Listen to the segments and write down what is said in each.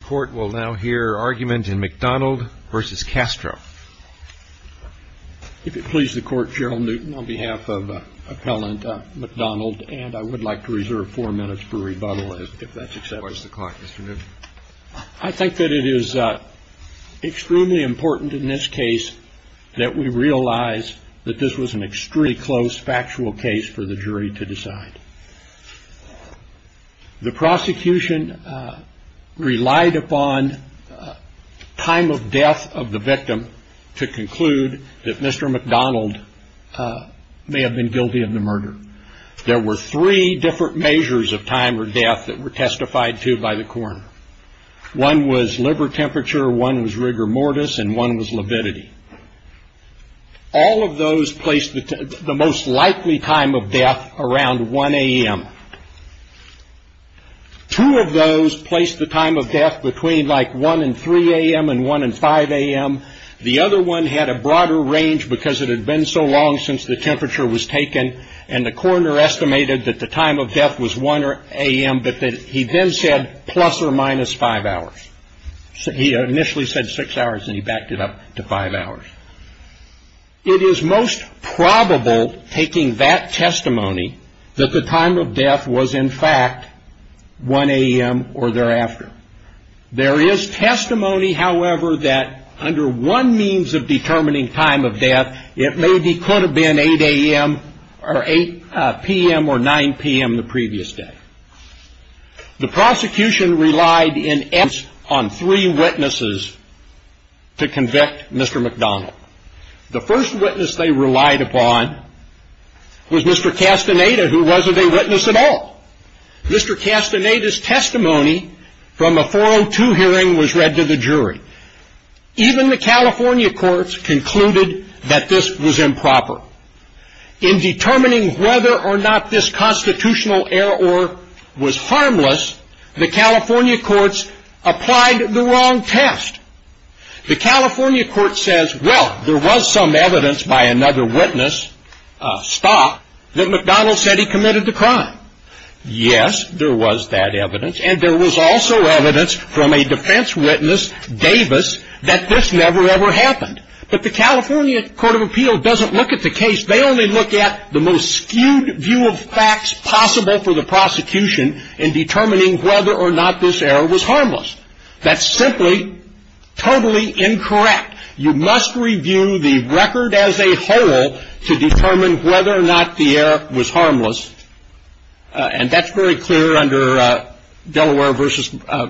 The court will now hear argument in McDonald v. Castro. If it pleases the court, Gerald Newton, on behalf of appellant McDonald, and I would like to reserve four minutes for rebuttal if that's acceptable. I think that it is extremely important in this case that we realize that this was an extremely close factual case for the jury to decide. The prosecution relied upon time of death of the victim to conclude that Mr. McDonald may have been guilty of the murder. There were three different measures of time or death that were testified to by the coroner. One was liver temperature, one was rigor mortis, and one was lividity. All of those placed the most likely time of death around 1 a.m. Two of those placed the time of death between like 1 and 3 a.m. and 1 and 5 a.m. The other one had a broader range because it had been so long since the temperature was taken, and the coroner estimated that the time of death was 1 a.m., but that he then said plus or minus five hours. He initially said six hours, and he backed it up to five hours. It is most probable, taking that testimony, that the time of death was in fact 1 a.m. or thereafter. There is testimony, however, that under one means of determining time of death, it maybe could have been 8 a.m. or 8 p.m. or 9 p.m. the previous day. The prosecution relied in essence on three witnesses to convict Mr. McDonald. The first witness they relied upon was Mr. Castaneda, who wasn't a witness at all. Mr. Castaneda's testimony from a 402 hearing was read to the jury. Even the California courts concluded that this was improper. In determining whether or not this constitutional error was harmless, the California courts applied the wrong test. The California court says, well, there was some evidence by another witness, Stott, that McDonald said he committed the crime. Yes, there was that evidence, and there was also evidence from a defense witness, Davis, that this never, ever happened. But the California court of appeal doesn't look at the case. They only look at the most skewed view of facts possible for the prosecution in determining whether or not this error was harmless. That's simply totally incorrect. You must review the record as a whole to determine whether or not the error was harmless, and that's very clear under Delaware v.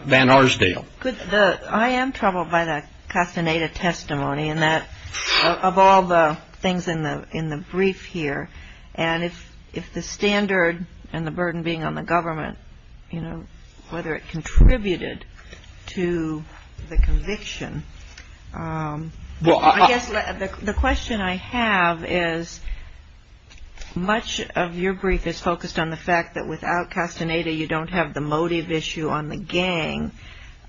Van Arsdale. I am troubled by the Castaneda testimony and that of all the things in the brief here. And if the standard and the burden being on the government, you know, whether it contributed to the conviction, I guess the question I have is much of your brief is focused on the fact that without Castaneda, you don't have the motive issue on the gang.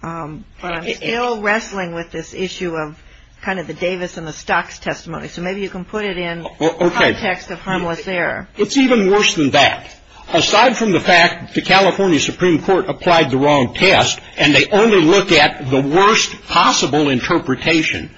But I'm still wrestling with this issue of kind of the Davis and the Stott's testimony, so maybe you can put it in the context of harmless error. It's even worse than that. Aside from the fact the California Supreme Court applied the wrong test and they only look at the worst possible interpretation,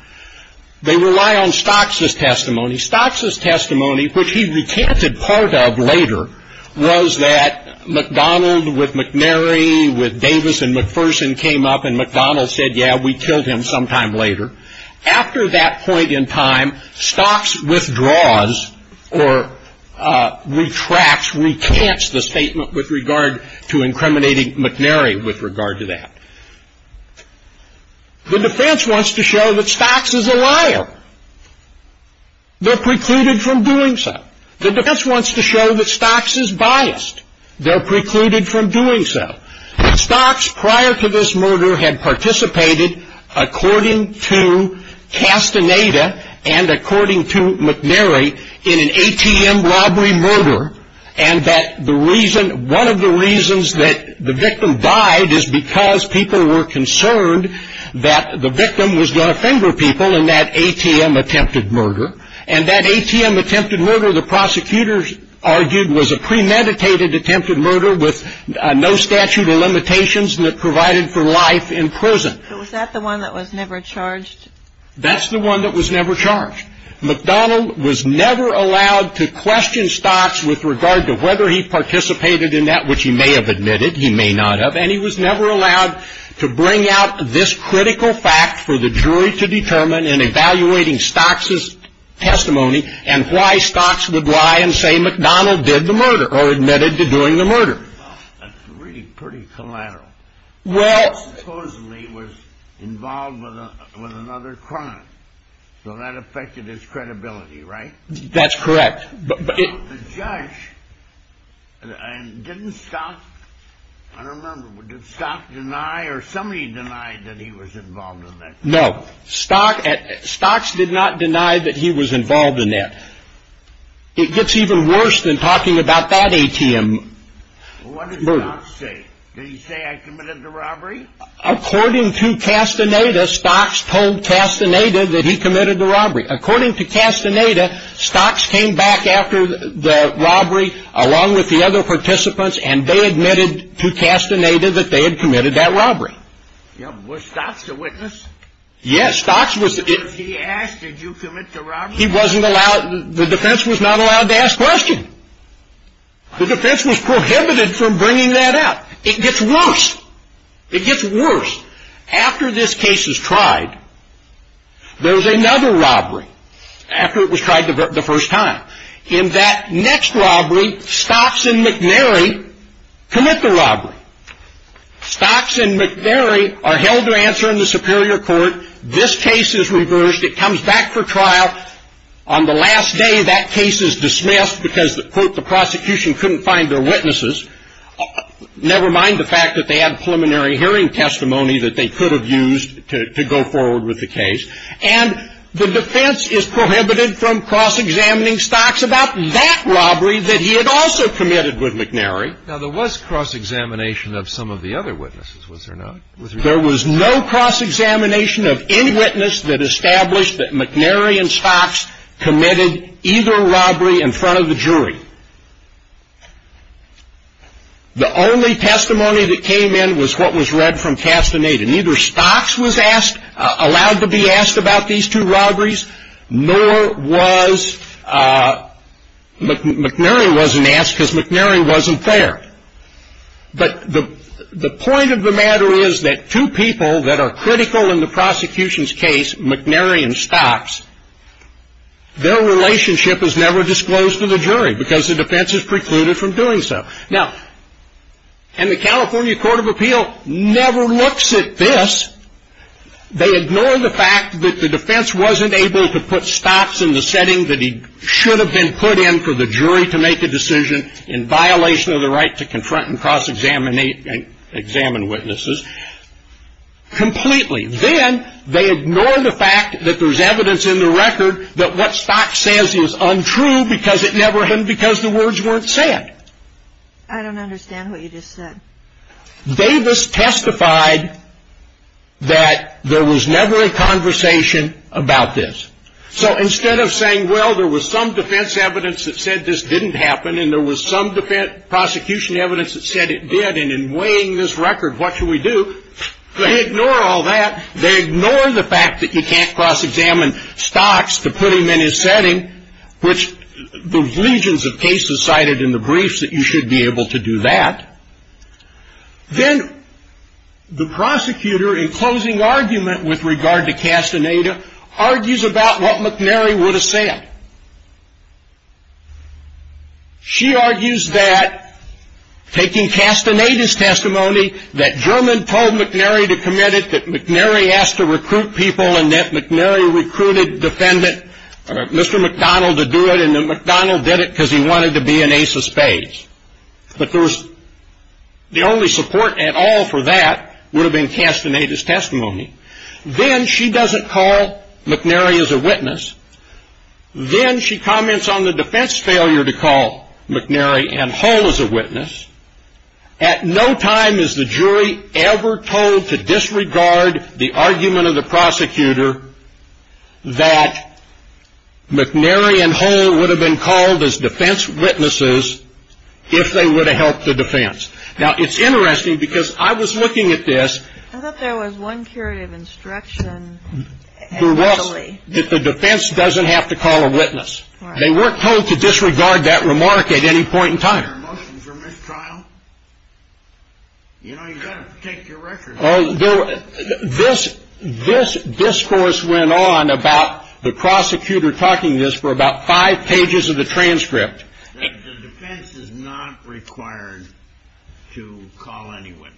they rely on Stott's testimony. Stott's testimony, which he recanted part of later, was that McDonald with McNary with Davis and McPherson came up and McDonald said, yeah, we killed him sometime later. After that point in time, Stott's withdraws or retracts, recants the statement with regard to incriminating McNary with regard to that. The defense wants to show that Stott's is a liar. They're precluded from doing so. The defense wants to show that Stott's is biased. They're precluded from doing so. Stott's, prior to this murder, had participated, according to Castaneda and according to McNary, in an ATM robbery murder, and that one of the reasons that the victim died is because people were concerned that the victim was going to finger people in that ATM attempted murder, and that ATM attempted murder, the prosecutors argued, was a premeditated attempted murder with no statute of limitations that provided for life in prison. But was that the one that was never charged? That's the one that was never charged. McDonnell was never allowed to question Stott's with regard to whether he participated in that, which he may have admitted, he may not have, and he was never allowed to bring out this critical fact for the jury to determine in evaluating Stott's' testimony and why Stott's would lie and say McDonnell did the murder or admitted to doing the murder. That's really pretty collateral. Stott's supposedly was involved with another crime, so that affected his credibility, right? That's correct. The judge, didn't Stott, I don't remember, did Stott deny or somebody deny that he was involved in that? No, Stott's did not deny that he was involved in that. It gets even worse than talking about that ATM murder. What did Stott say? Did he say I committed the robbery? According to Castaneda, Stott's told Castaneda that he committed the robbery. According to Castaneda, Stott's came back after the robbery along with the other participants and they admitted to Castaneda that they had committed that robbery. Was Stott's a witness? Yes, Stott's was. If he asked, did you commit the robbery? He wasn't allowed, the defense was not allowed to ask questions. The defense was prohibited from bringing that up. It gets worse. It gets worse. After this case is tried, there's another robbery after it was tried the first time. In that next robbery, Stott's and McNary commit the robbery. Stott's and McNary are held to answer in the superior court. This case is reversed. It comes back for trial. On the last day, that case is dismissed because the prosecution couldn't find their witnesses, never mind the fact that they had preliminary hearing testimony that they could have used to go forward with the case. And the defense is prohibited from cross-examining Stott's about that robbery that he had also committed with McNary. Now, there was cross-examination of some of the other witnesses, was there not? There was no cross-examination of any witness that established that McNary and Stott's committed either robbery in front of the jury. The only testimony that came in was what was read from Castaneda. Neither Stott's was allowed to be asked about these two robberies, nor was McNary wasn't asked because McNary wasn't there. But the point of the matter is that two people that are critical in the prosecution's case, McNary and Stott's, their relationship is never disclosed to the jury because the defense is precluded from doing so. Now, and the California Court of Appeal never looks at this. They ignore the fact that the defense wasn't able to put Stott's in the setting that he should have been put in for the jury to make a decision in violation of the right to confront and cross-examine witnesses completely. Then they ignore the fact that there's evidence in the record that what Stott's says is untrue because it never happened because the words weren't said. I don't understand what you just said. Davis testified that there was never a conversation about this. So instead of saying, well, there was some defense evidence that said this didn't happen and there was some defense prosecution evidence that said it did, and in weighing this record, what should we do? They ignore all that. They ignore the fact that you can't cross-examine Stott's to put him in his setting, which the legions of cases cited in the briefs that you should be able to do that. Then the prosecutor, in closing argument with regard to Castaneda, argues about what McNary would have said. She argues that, taking Castaneda's testimony, that German told McNary to commit it, that McNary asked to recruit people, and that McNary recruited defendant Mr. McDonald to do it, and that McDonald did it because he wanted to be an ace of spades. But the only support at all for that would have been Castaneda's testimony. Then she doesn't call McNary as a witness. Then she comments on the defense failure to call McNary and Hull as a witness. At no time is the jury ever told to disregard the argument of the prosecutor that McNary and Hull would have been called as defense witnesses if they would have helped the defense. Now, it's interesting, because I was looking at this. I thought there was one curative instruction. There was, that the defense doesn't have to call a witness. They weren't told to disregard that remark at any point in time. Is there a motion for mistrial? You know, you've got to take your record. This discourse went on about the prosecutor talking to this for about five pages of the transcript. The defense is not required to call any witness.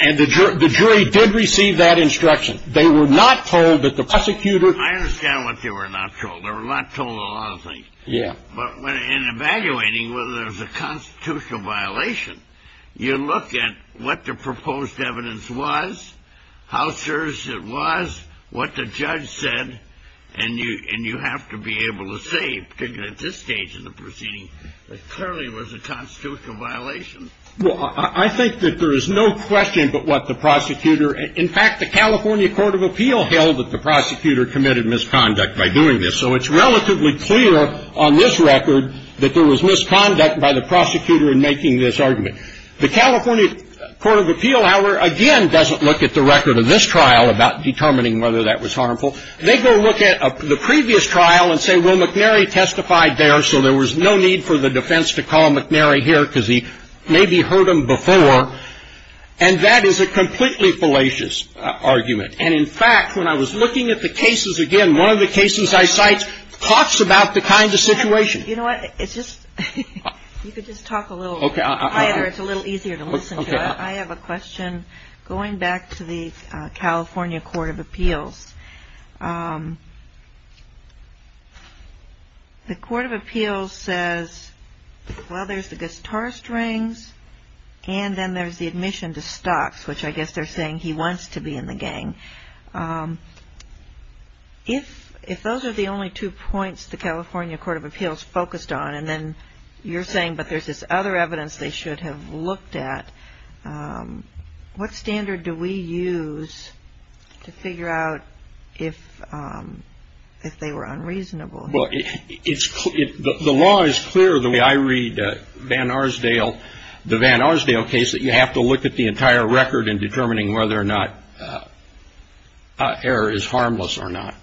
And the jury did receive that instruction. They were not told that the prosecutor… I understand what they were not told. They were not told a lot of things. Yeah. But in evaluating whether there's a constitutional violation, you look at what the proposed evidence was, how serious it was, what the judge said, and you have to be able to say, particularly at this stage in the proceeding, that it clearly was a constitutional violation. Well, I think that there is no question but what the prosecutor… In fact, the California Court of Appeal held that the prosecutor committed misconduct by doing this. So it's relatively clear on this record that there was misconduct by the prosecutor in making this argument. The California Court of Appeal, however, again, doesn't look at the record of this trial about determining whether that was harmful. They go look at the previous trial and say, well, McNary testified there, so there was no need for the defense to call McNary here because he maybe heard him before. And that is a completely fallacious argument. And, in fact, when I was looking at the cases again, one of the cases I cite talks about the kind of situation. You know what? You could just talk a little quieter. It's a little easier to listen to. I have a question going back to the California Court of Appeals. The Court of Appeals says, well, there's the guitar strings and then there's the admission to stocks, which I guess they're saying he wants to be in the gang. If those are the only two points the California Court of Appeals focused on and then you're saying, but there's this other evidence they should have looked at, what standard do we use to figure out if they were unreasonable? Well, the law is clear the way I read Vanarsdale, the Vanarsdale case that you have to look at the entire record in determining whether or not error is harmless or not.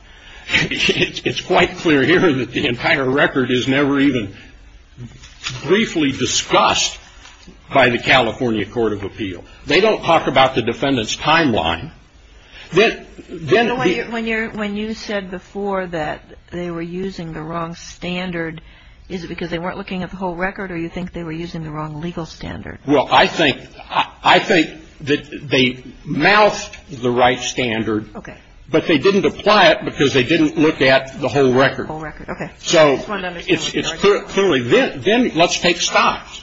It's quite clear here that the entire record is never even briefly discussed by the California Court of Appeals. They don't talk about the defendant's timeline. When you said before that they were using the wrong standard, is it because they weren't looking at the whole record or you think they were using the wrong legal standard? Well, I think that they moused the right standard. Okay. But they didn't apply it because they didn't look at the whole record. The whole record, okay. So it's clear. Then let's take stocks.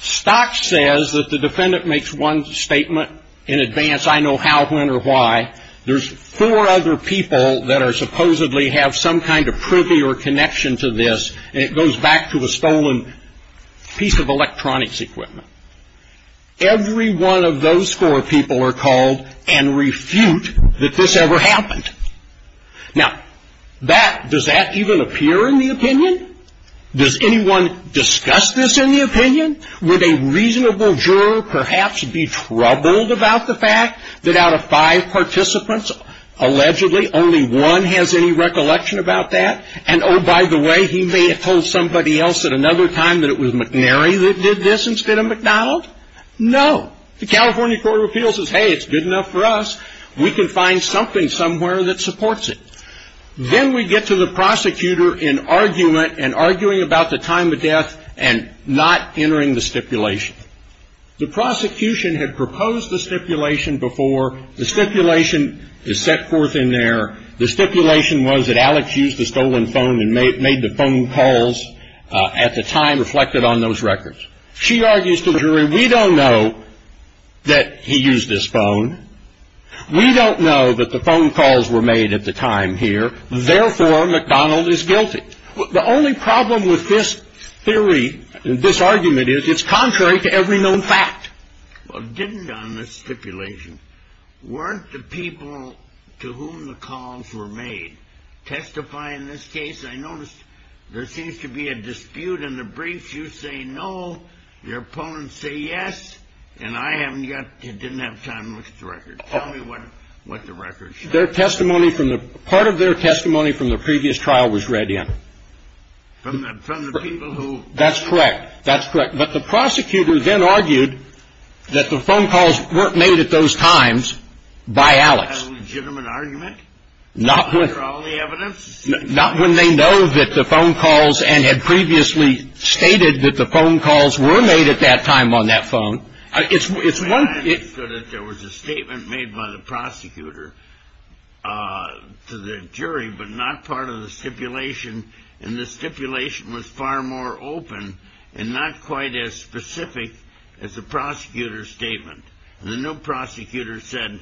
Stocks says that the defendant makes one statement in advance. I know how, when, or why. There's four other people that supposedly have some kind of privy or connection to this, and it goes back to a stolen piece of electronics equipment. Every one of those four people are called and refute that this ever happened. Now, does that even appear in the opinion? Does anyone discuss this in the opinion? Would a reasonable juror perhaps be troubled about the fact that out of five participants, allegedly only one has any recollection about that? And, oh, by the way, he may have told somebody else at another time that it was McNary that did this instead of McDonald? No. The California Court of Appeals says, hey, it's good enough for us. We can find something somewhere that supports it. Then we get to the prosecutor in argument and arguing about the time of death and not entering the stipulation. The prosecution had proposed the stipulation before. The stipulation is set forth in there. The stipulation was that Alex used a stolen phone and made the phone calls at the time reflected on those records. She argues to the jury, we don't know that he used this phone. We don't know that the phone calls were made at the time here. Therefore, McDonald is guilty. The only problem with this theory, this argument, is it's contrary to every known fact. Well, didn't on this stipulation, weren't the people to whom the calls were made testify in this case? I noticed there seems to be a dispute in the briefs. You say no, your opponents say yes, and I didn't have time to look at the records. Tell me what the records show. Part of their testimony from the previous trial was read in. From the people who? That's correct. That's correct. But the prosecutor then argued that the phone calls weren't made at those times by Alex. Is that a legitimate argument? After all the evidence? Not when they know that the phone calls and had previously stated that the phone calls were made at that time on that phone. It's one. There was a statement made by the prosecutor to the jury, but not part of the stipulation, and the stipulation was far more open and not quite as specific as the prosecutor's statement. The new prosecutor said,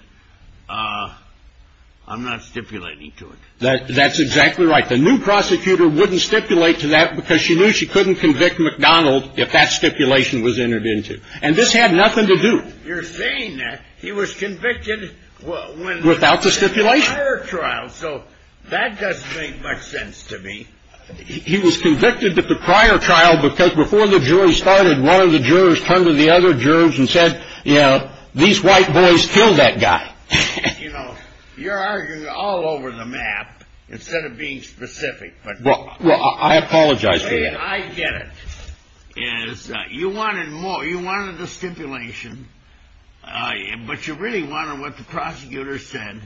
I'm not stipulating to it. That's exactly right. The new prosecutor wouldn't stipulate to that because she knew she couldn't convict McDonald if that stipulation was entered into. And this had nothing to do. You're saying that he was convicted when? Without the stipulation. Prior trial. So that doesn't make much sense to me. He was convicted at the prior trial because before the jury started, one of the jurors turned to the other jurors and said, you know, these white boys killed that guy. You know, you're arguing all over the map instead of being specific. But I apologize. I get it is that you wanted more. You wanted the stipulation. But you really wanted what the prosecutor said.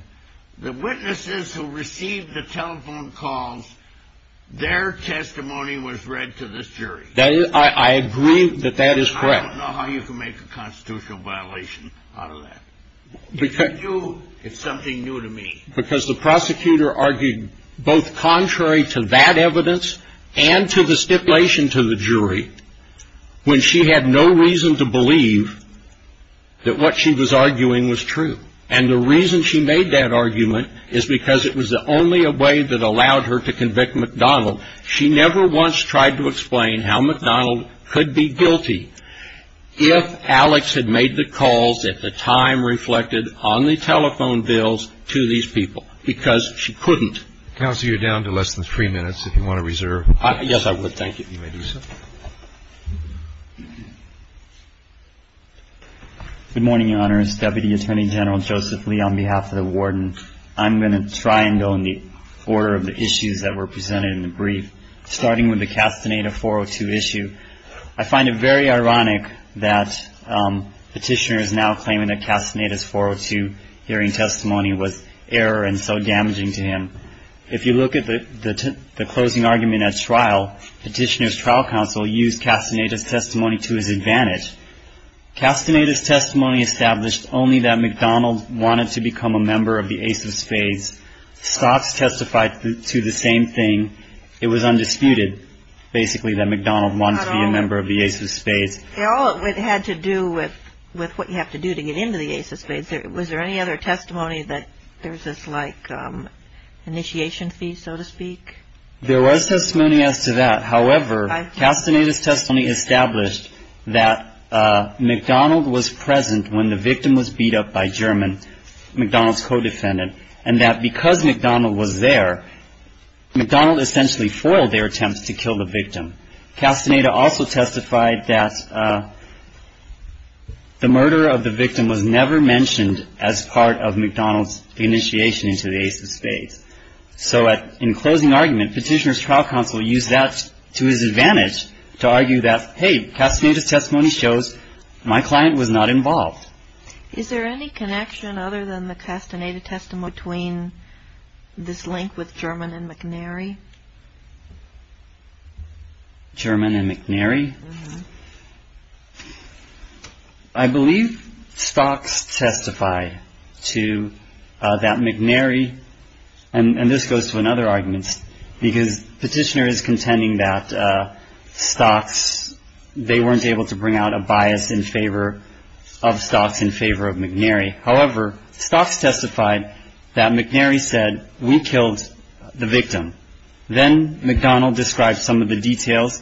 The witnesses who received the telephone calls, their testimony was read to this jury. I agree that that is correct. I don't know how you can make a constitutional violation out of that. It's something new to me. Because the prosecutor argued both contrary to that evidence and to the stipulation to the jury when she had no reason to believe that what she was arguing was true. And the reason she made that argument is because it was the only way that allowed her to convict McDonald. So she never once tried to explain how McDonald could be guilty if Alex had made the calls at the time reflected on the telephone bills to these people. Because she couldn't. Counsel, you're down to less than three minutes if you want to reserve. Yes, I would. Thank you. You may do so. Good morning, Your Honors. Deputy Attorney General Joseph Lee on behalf of the warden. I'm going to try and go in the order of the issues that were presented in the brief, starting with the Castaneda 402 issue. I find it very ironic that Petitioner is now claiming that Castaneda's 402 hearing testimony was error and so damaging to him. If you look at the closing argument at trial, Petitioner's trial counsel used Castaneda's testimony to his advantage. Castaneda's testimony established only that McDonald wanted to become a member of the Ace of Spades. Scott's testified to the same thing. It was undisputed, basically, that McDonald wanted to be a member of the Ace of Spades. It had to do with what you have to do to get into the Ace of Spades. Was there any other testimony that there's this, like, initiation fee, so to speak? There was testimony as to that. However, Castaneda's testimony established that McDonald was present when the victim was beat up by German, McDonald's co-defendant, and that because McDonald was there, McDonald essentially foiled their attempts to kill the victim. Castaneda also testified that the murder of the victim was never mentioned as part of McDonald's initiation into the Ace of Spades. So in closing argument, Petitioner's trial counsel used that to his advantage to argue that, hey, Castaneda's testimony shows my client was not involved. Is there any connection other than the Castaneda testimony between this link with German and McNary? German and McNary? I believe Stocks testified to that McNary, and this goes to another argument, because Petitioner is contending that Stocks, they weren't able to bring out a bias in favor of Stocks in favor of McNary. However, Stocks testified that McNary said, we killed the victim. Then McDonald described some of the details.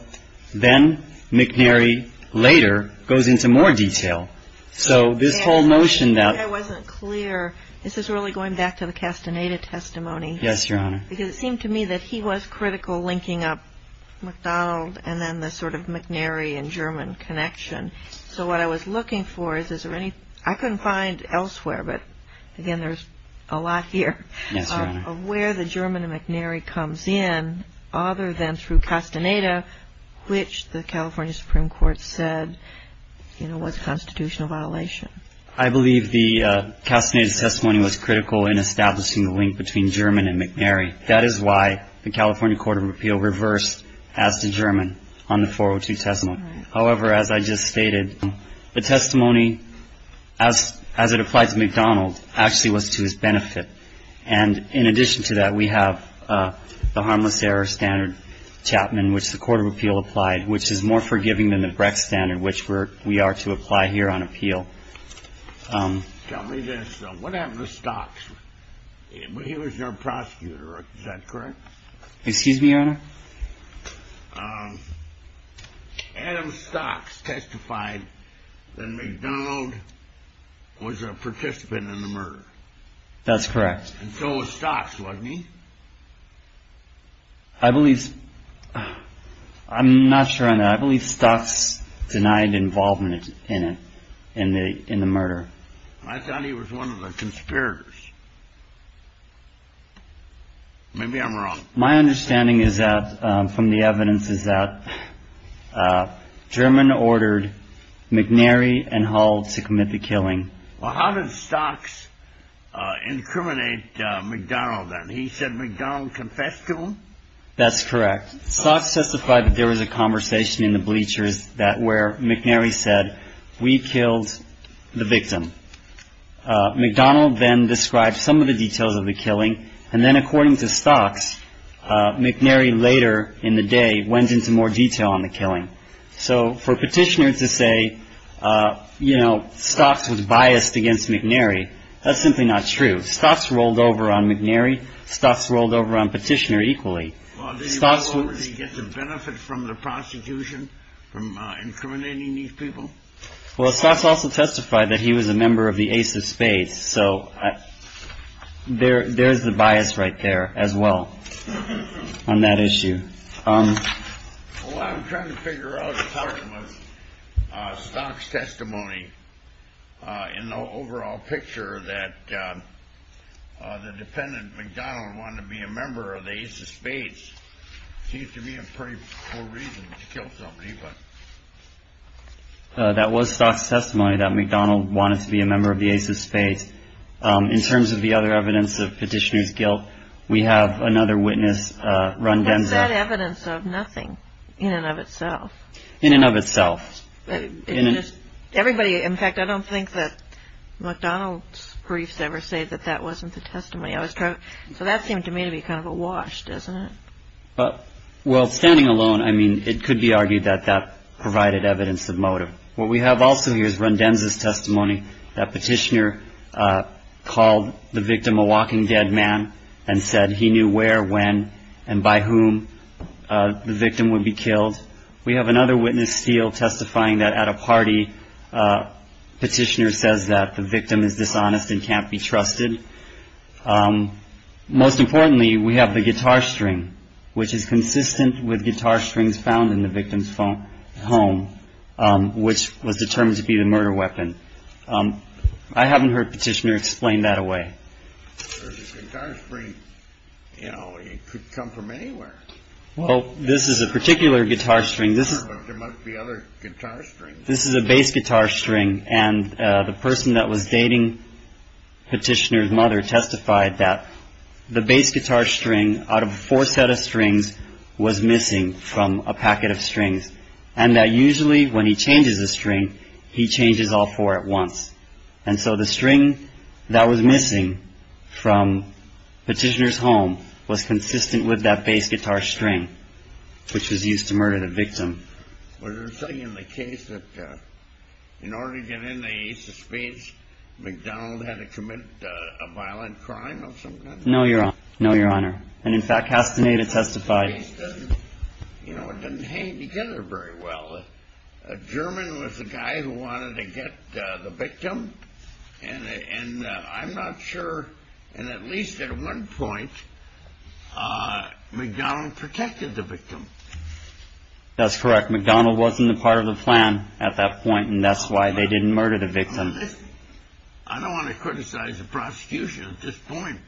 Then McNary later goes into more detail. So this whole notion that — I wasn't clear. This is really going back to the Castaneda testimony. Yes, Your Honor. Because it seemed to me that he was critical linking up McDonald and then the sort of McNary and German connection. So what I was looking for is, is there any — I couldn't find elsewhere, but again, there's a lot here — Yes, Your Honor. — of where the German and McNary comes in, other than through Castaneda, which the California Supreme Court said, you know, was a constitutional violation. I believe the Castaneda testimony was critical in establishing the link between German and McNary. That is why the California Court of Appeal reversed as to German on the 402 testimony. However, as I just stated, the testimony, as it applied to McDonald, actually was to his benefit. And in addition to that, we have the harmless error standard Chapman, which the Court of Appeal applied, which is more forgiving than the Brecht standard, which we are to apply here on appeal. Tell me this. What happened to Stocks? He was your prosecutor. Is that correct? Excuse me, Your Honor? Adam Stocks testified that McDonald was a participant in the murder. That's correct. And so was Stocks, wasn't he? I believe — I'm not sure on that. I believe Stocks denied involvement in it, in the murder. I thought he was one of the conspirators. Maybe I'm wrong. My understanding is that — from the evidence is that German ordered McNary and Hull to commit the killing. Well, how did Stocks incriminate McDonald then? He said McDonald confessed to him? That's correct. Stocks testified that there was a conversation in the bleachers where McNary said, we killed the victim. McDonald then described some of the details of the killing. And then according to Stocks, McNary later in the day went into more detail on the killing. So for Petitioner to say, you know, Stocks was biased against McNary, that's simply not true. Stocks rolled over on McNary. Stocks rolled over on Petitioner equally. Did he get the benefit from the prosecution from incriminating these people? Well, Stocks also testified that he was a member of the Ace of Spades. So there is the bias right there as well on that issue. What I'm trying to figure out is how it was Stocks' testimony in the overall picture, that the defendant, McDonald, wanted to be a member of the Ace of Spades. Seems to me a pretty poor reason to kill somebody. That was Stocks' testimony, that McDonald wanted to be a member of the Ace of Spades. In terms of the other evidence of Petitioner's guilt, we have another witness, Run Demza. Is that evidence of nothing in and of itself? In and of itself. Everybody, in fact, I don't think that McDonald's briefs ever say that that wasn't the testimony. So that seemed to me to be kind of a wash, doesn't it? Well, standing alone, I mean, it could be argued that that provided evidence of motive. What we have also here is Run Demza's testimony, that Petitioner called the victim a walking dead man and said he knew where, when, and by whom the victim would be killed. We have another witness, Steele, testifying that at a party, Petitioner says that the victim is dishonest and can't be trusted. Most importantly, we have the guitar string, which is consistent with guitar strings found in the victim's home, which was determined to be the murder weapon. I haven't heard Petitioner explain that away. The guitar string, you know, it could come from anywhere. Well, this is a particular guitar string. There must be other guitar strings. This is a bass guitar string. And the person that was dating Petitioner's mother testified that the bass guitar string, out of four set of strings, was missing from a packet of strings. And that usually when he changes a string, he changes all four at once. And so the string that was missing from Petitioner's home was consistent with that bass guitar string, which was used to murder the victim. Was there something in the case that in order to get into Ace of Spades, McDonald had to commit a violent crime of some kind? No, Your Honor. And, in fact, Castaneda testified. You know, it didn't hang together very well. A German was the guy who wanted to get the victim. And I'm not sure, and at least at one point, McDonald protected the victim. That's correct. McDonald wasn't a part of the plan at that point, and that's why they didn't murder the victim. I don't want to criticize the prosecution at this point,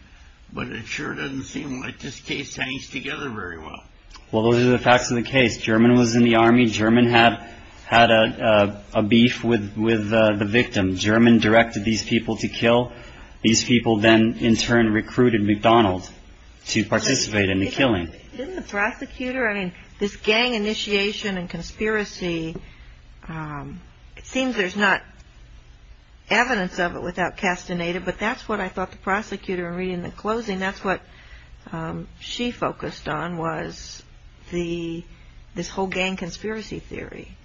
but it sure doesn't seem like this case hangs together very well. Well, those are the facts of the case. German was in the Army. German had a beef with the victim. German directed these people to kill. These people then in turn recruited McDonald to participate in the killing. Didn't the prosecutor, I mean, this gang initiation and conspiracy, it seems there's not evidence of it without Castaneda, but that's what I thought the prosecutor in reading the closing, that's what she focused on was this whole gang conspiracy theory.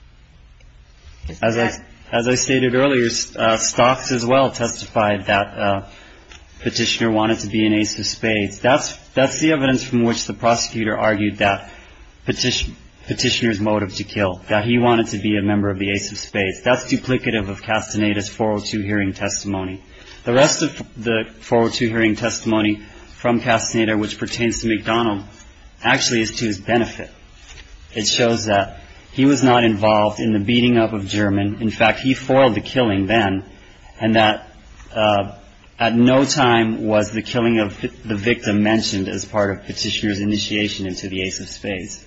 As I stated earlier, Stocks as well testified that Petitioner wanted to be an ace of spades. That's the evidence from which the prosecutor argued that Petitioner's motive to kill, that he wanted to be a member of the ace of spades. That's duplicative of Castaneda's 402 hearing testimony. The rest of the 402 hearing testimony from Castaneda which pertains to McDonald actually is to his benefit. It shows that he was not involved in the beating up of German. In fact, he foiled the killing then, and that at no time was the killing of the victim mentioned as part of Petitioner's initiation into the ace of spades.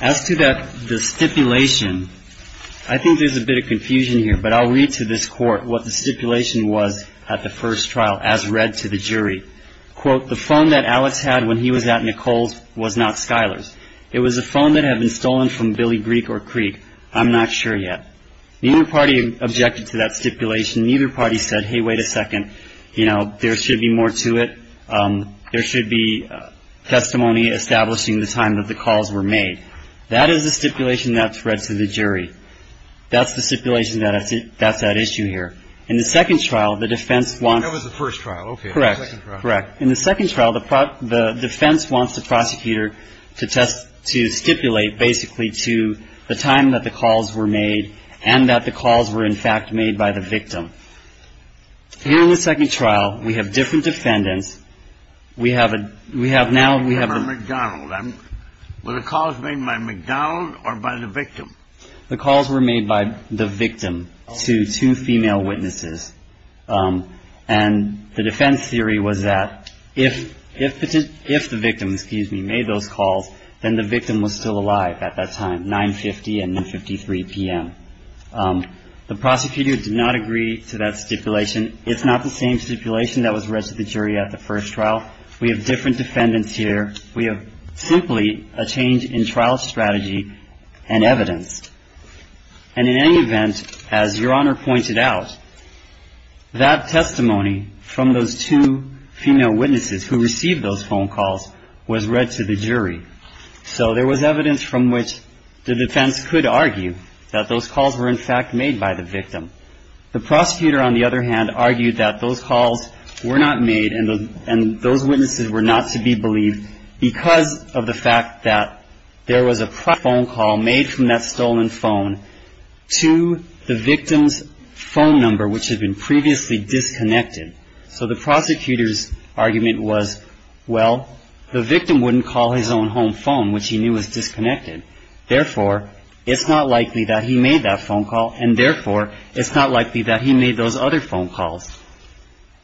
As to the stipulation, I think there's a bit of confusion here, but I'll read to this court what the stipulation was at the first trial as read to the jury. Quote, the phone that Alex had when he was at Nicole's was not Skyler's. It was a phone that had been stolen from Billy Greek or Creek. I'm not sure yet. Neither party objected to that stipulation. Neither party said, hey, wait a second. You know, there should be more to it. There should be testimony establishing the time that the calls were made. That is a stipulation that's read to the jury. That's the stipulation that's at issue here. In the second trial, the defense wants. That was the first trial. Okay. Correct. Correct. In the second trial, the defense wants the prosecutor to test to stipulate basically to the time that the calls were made and that the calls were in fact made by the victim. In the second trial, we have different defendants. We have a we have now we have. McDonald. Were the calls made by McDonald or by the victim? The calls were made by the victim to two female witnesses. And the defense theory was that if if if the victim, excuse me, made those calls, then the victim was still alive at that time, 950 and 53 p.m. The prosecutor did not agree to that stipulation. It's not the same stipulation that was read to the jury at the first trial. We have different defendants here. We have simply a change in trial strategy and evidence. And in any event, as Your Honor pointed out, that testimony from those two female witnesses who received those phone calls was read to the jury. So there was evidence from which the defense could argue that those calls were in fact made by the victim. The prosecutor, on the other hand, argued that those calls were not made and those witnesses were not to be believed because of the fact that there was a phone call made from that stolen phone to the victim's phone number, which had been previously disconnected. So the prosecutor's argument was, well, the victim wouldn't call his own home phone, which he knew was disconnected. Therefore, it's not likely that he made that phone call, and therefore, it's not likely that he made those other phone calls.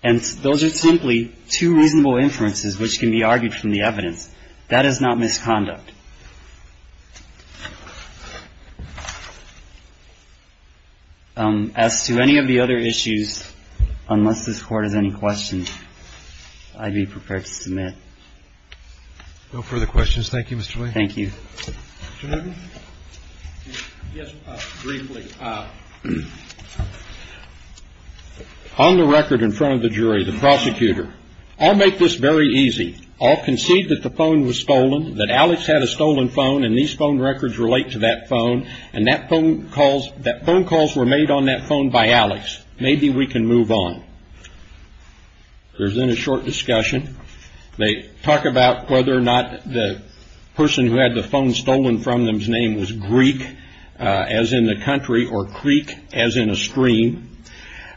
And those are simply two reasonable inferences which can be argued from the evidence. That is not misconduct. As to any of the other issues, unless this Court has any questions, I'd be prepared to submit. No further questions. Thank you, Mr. Lane. Thank you. Judge? Yes, briefly. On the record in front of the jury, the prosecutor, I'll make this very easy. I'll concede that the phone was stolen, that Alex had a stolen phone, and these phone records relate to that phone, and that phone calls were made on that phone by Alex. Maybe we can move on. There's then a short discussion. They talk about whether or not the person who had the phone stolen from them's name was Greek, as in the country, or Creek, as in a stream.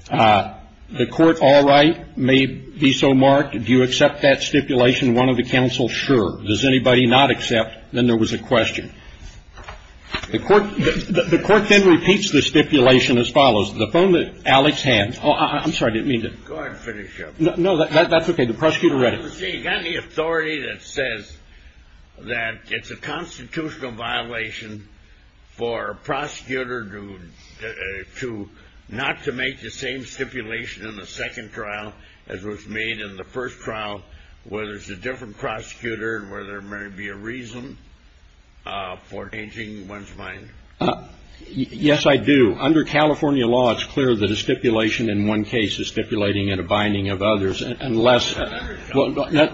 The court, all right, may be so marked. Do you accept that stipulation, one of the counsel? Sure. Does anybody not accept? Then there was a question. The court then repeats the stipulation as follows. The phone that Alex had. Oh, I'm sorry, I didn't mean to. Go ahead and finish up. No, that's okay. The prosecutor read it. See, you've got an authority that says that it's a constitutional violation for a prosecutor not to make the same stipulation in the second trial as was made in the first trial, whether it's a different prosecutor and whether there may be a reason for changing one's mind. Yes, I do. Under California law, it's clear that a stipulation in one case is stipulating in a binding of others. Unless. Federal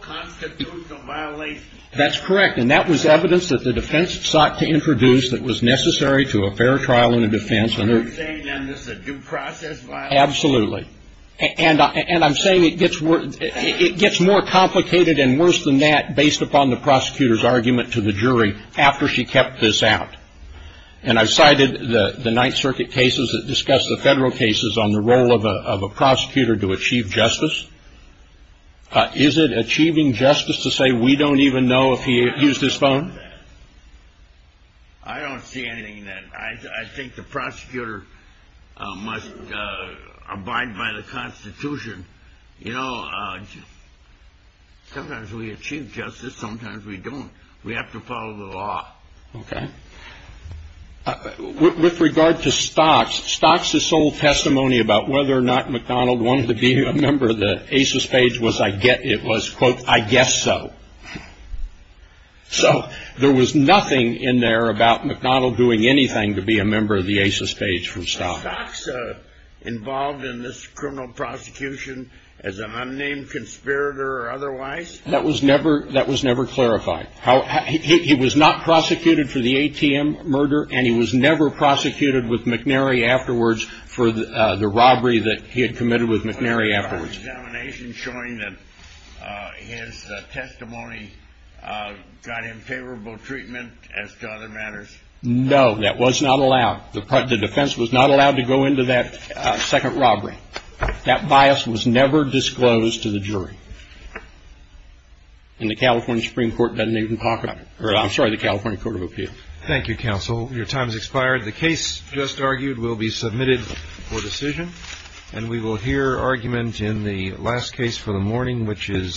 constitutional violation. That's correct. And that was evidence that the defense sought to introduce that was necessary to a fair trial in a defense. Are you saying then this is a due process violation? Absolutely. And I'm saying it gets more complicated and worse than that based upon the prosecutor's argument to the jury after she kept this out. And I've cited the Ninth Circuit cases that discuss the federal cases on the role of a prosecutor to achieve justice. Is it achieving justice to say we don't even know if he used his phone? I think the prosecutor must abide by the Constitution. You know, sometimes we achieve justice, sometimes we don't. We have to follow the law. Okay. With regard to Stocks, Stocks' sole testimony about whether or not McDonald wanted to be a member of the ACES page was, I guess it was, quote, I guess so. So there was nothing in there about McDonald doing anything to be a member of the ACES page from Stocks. Was Stocks involved in this criminal prosecution as an unnamed conspirator or otherwise? That was never clarified. He was not prosecuted for the ATM murder, and he was never prosecuted with McNary afterwards for the robbery that he had committed with McNary afterwards. Was there an examination showing that his testimony got him favorable treatment as to other matters? No, that was not allowed. The defense was not allowed to go into that second robbery. That bias was never disclosed to the jury, and the California Supreme Court doesn't even talk about it. I'm sorry, the California Court of Appeals. Thank you, counsel. Your time has expired. The case just argued will be submitted for decision, and we will hear argument in the last case for the morning, which is.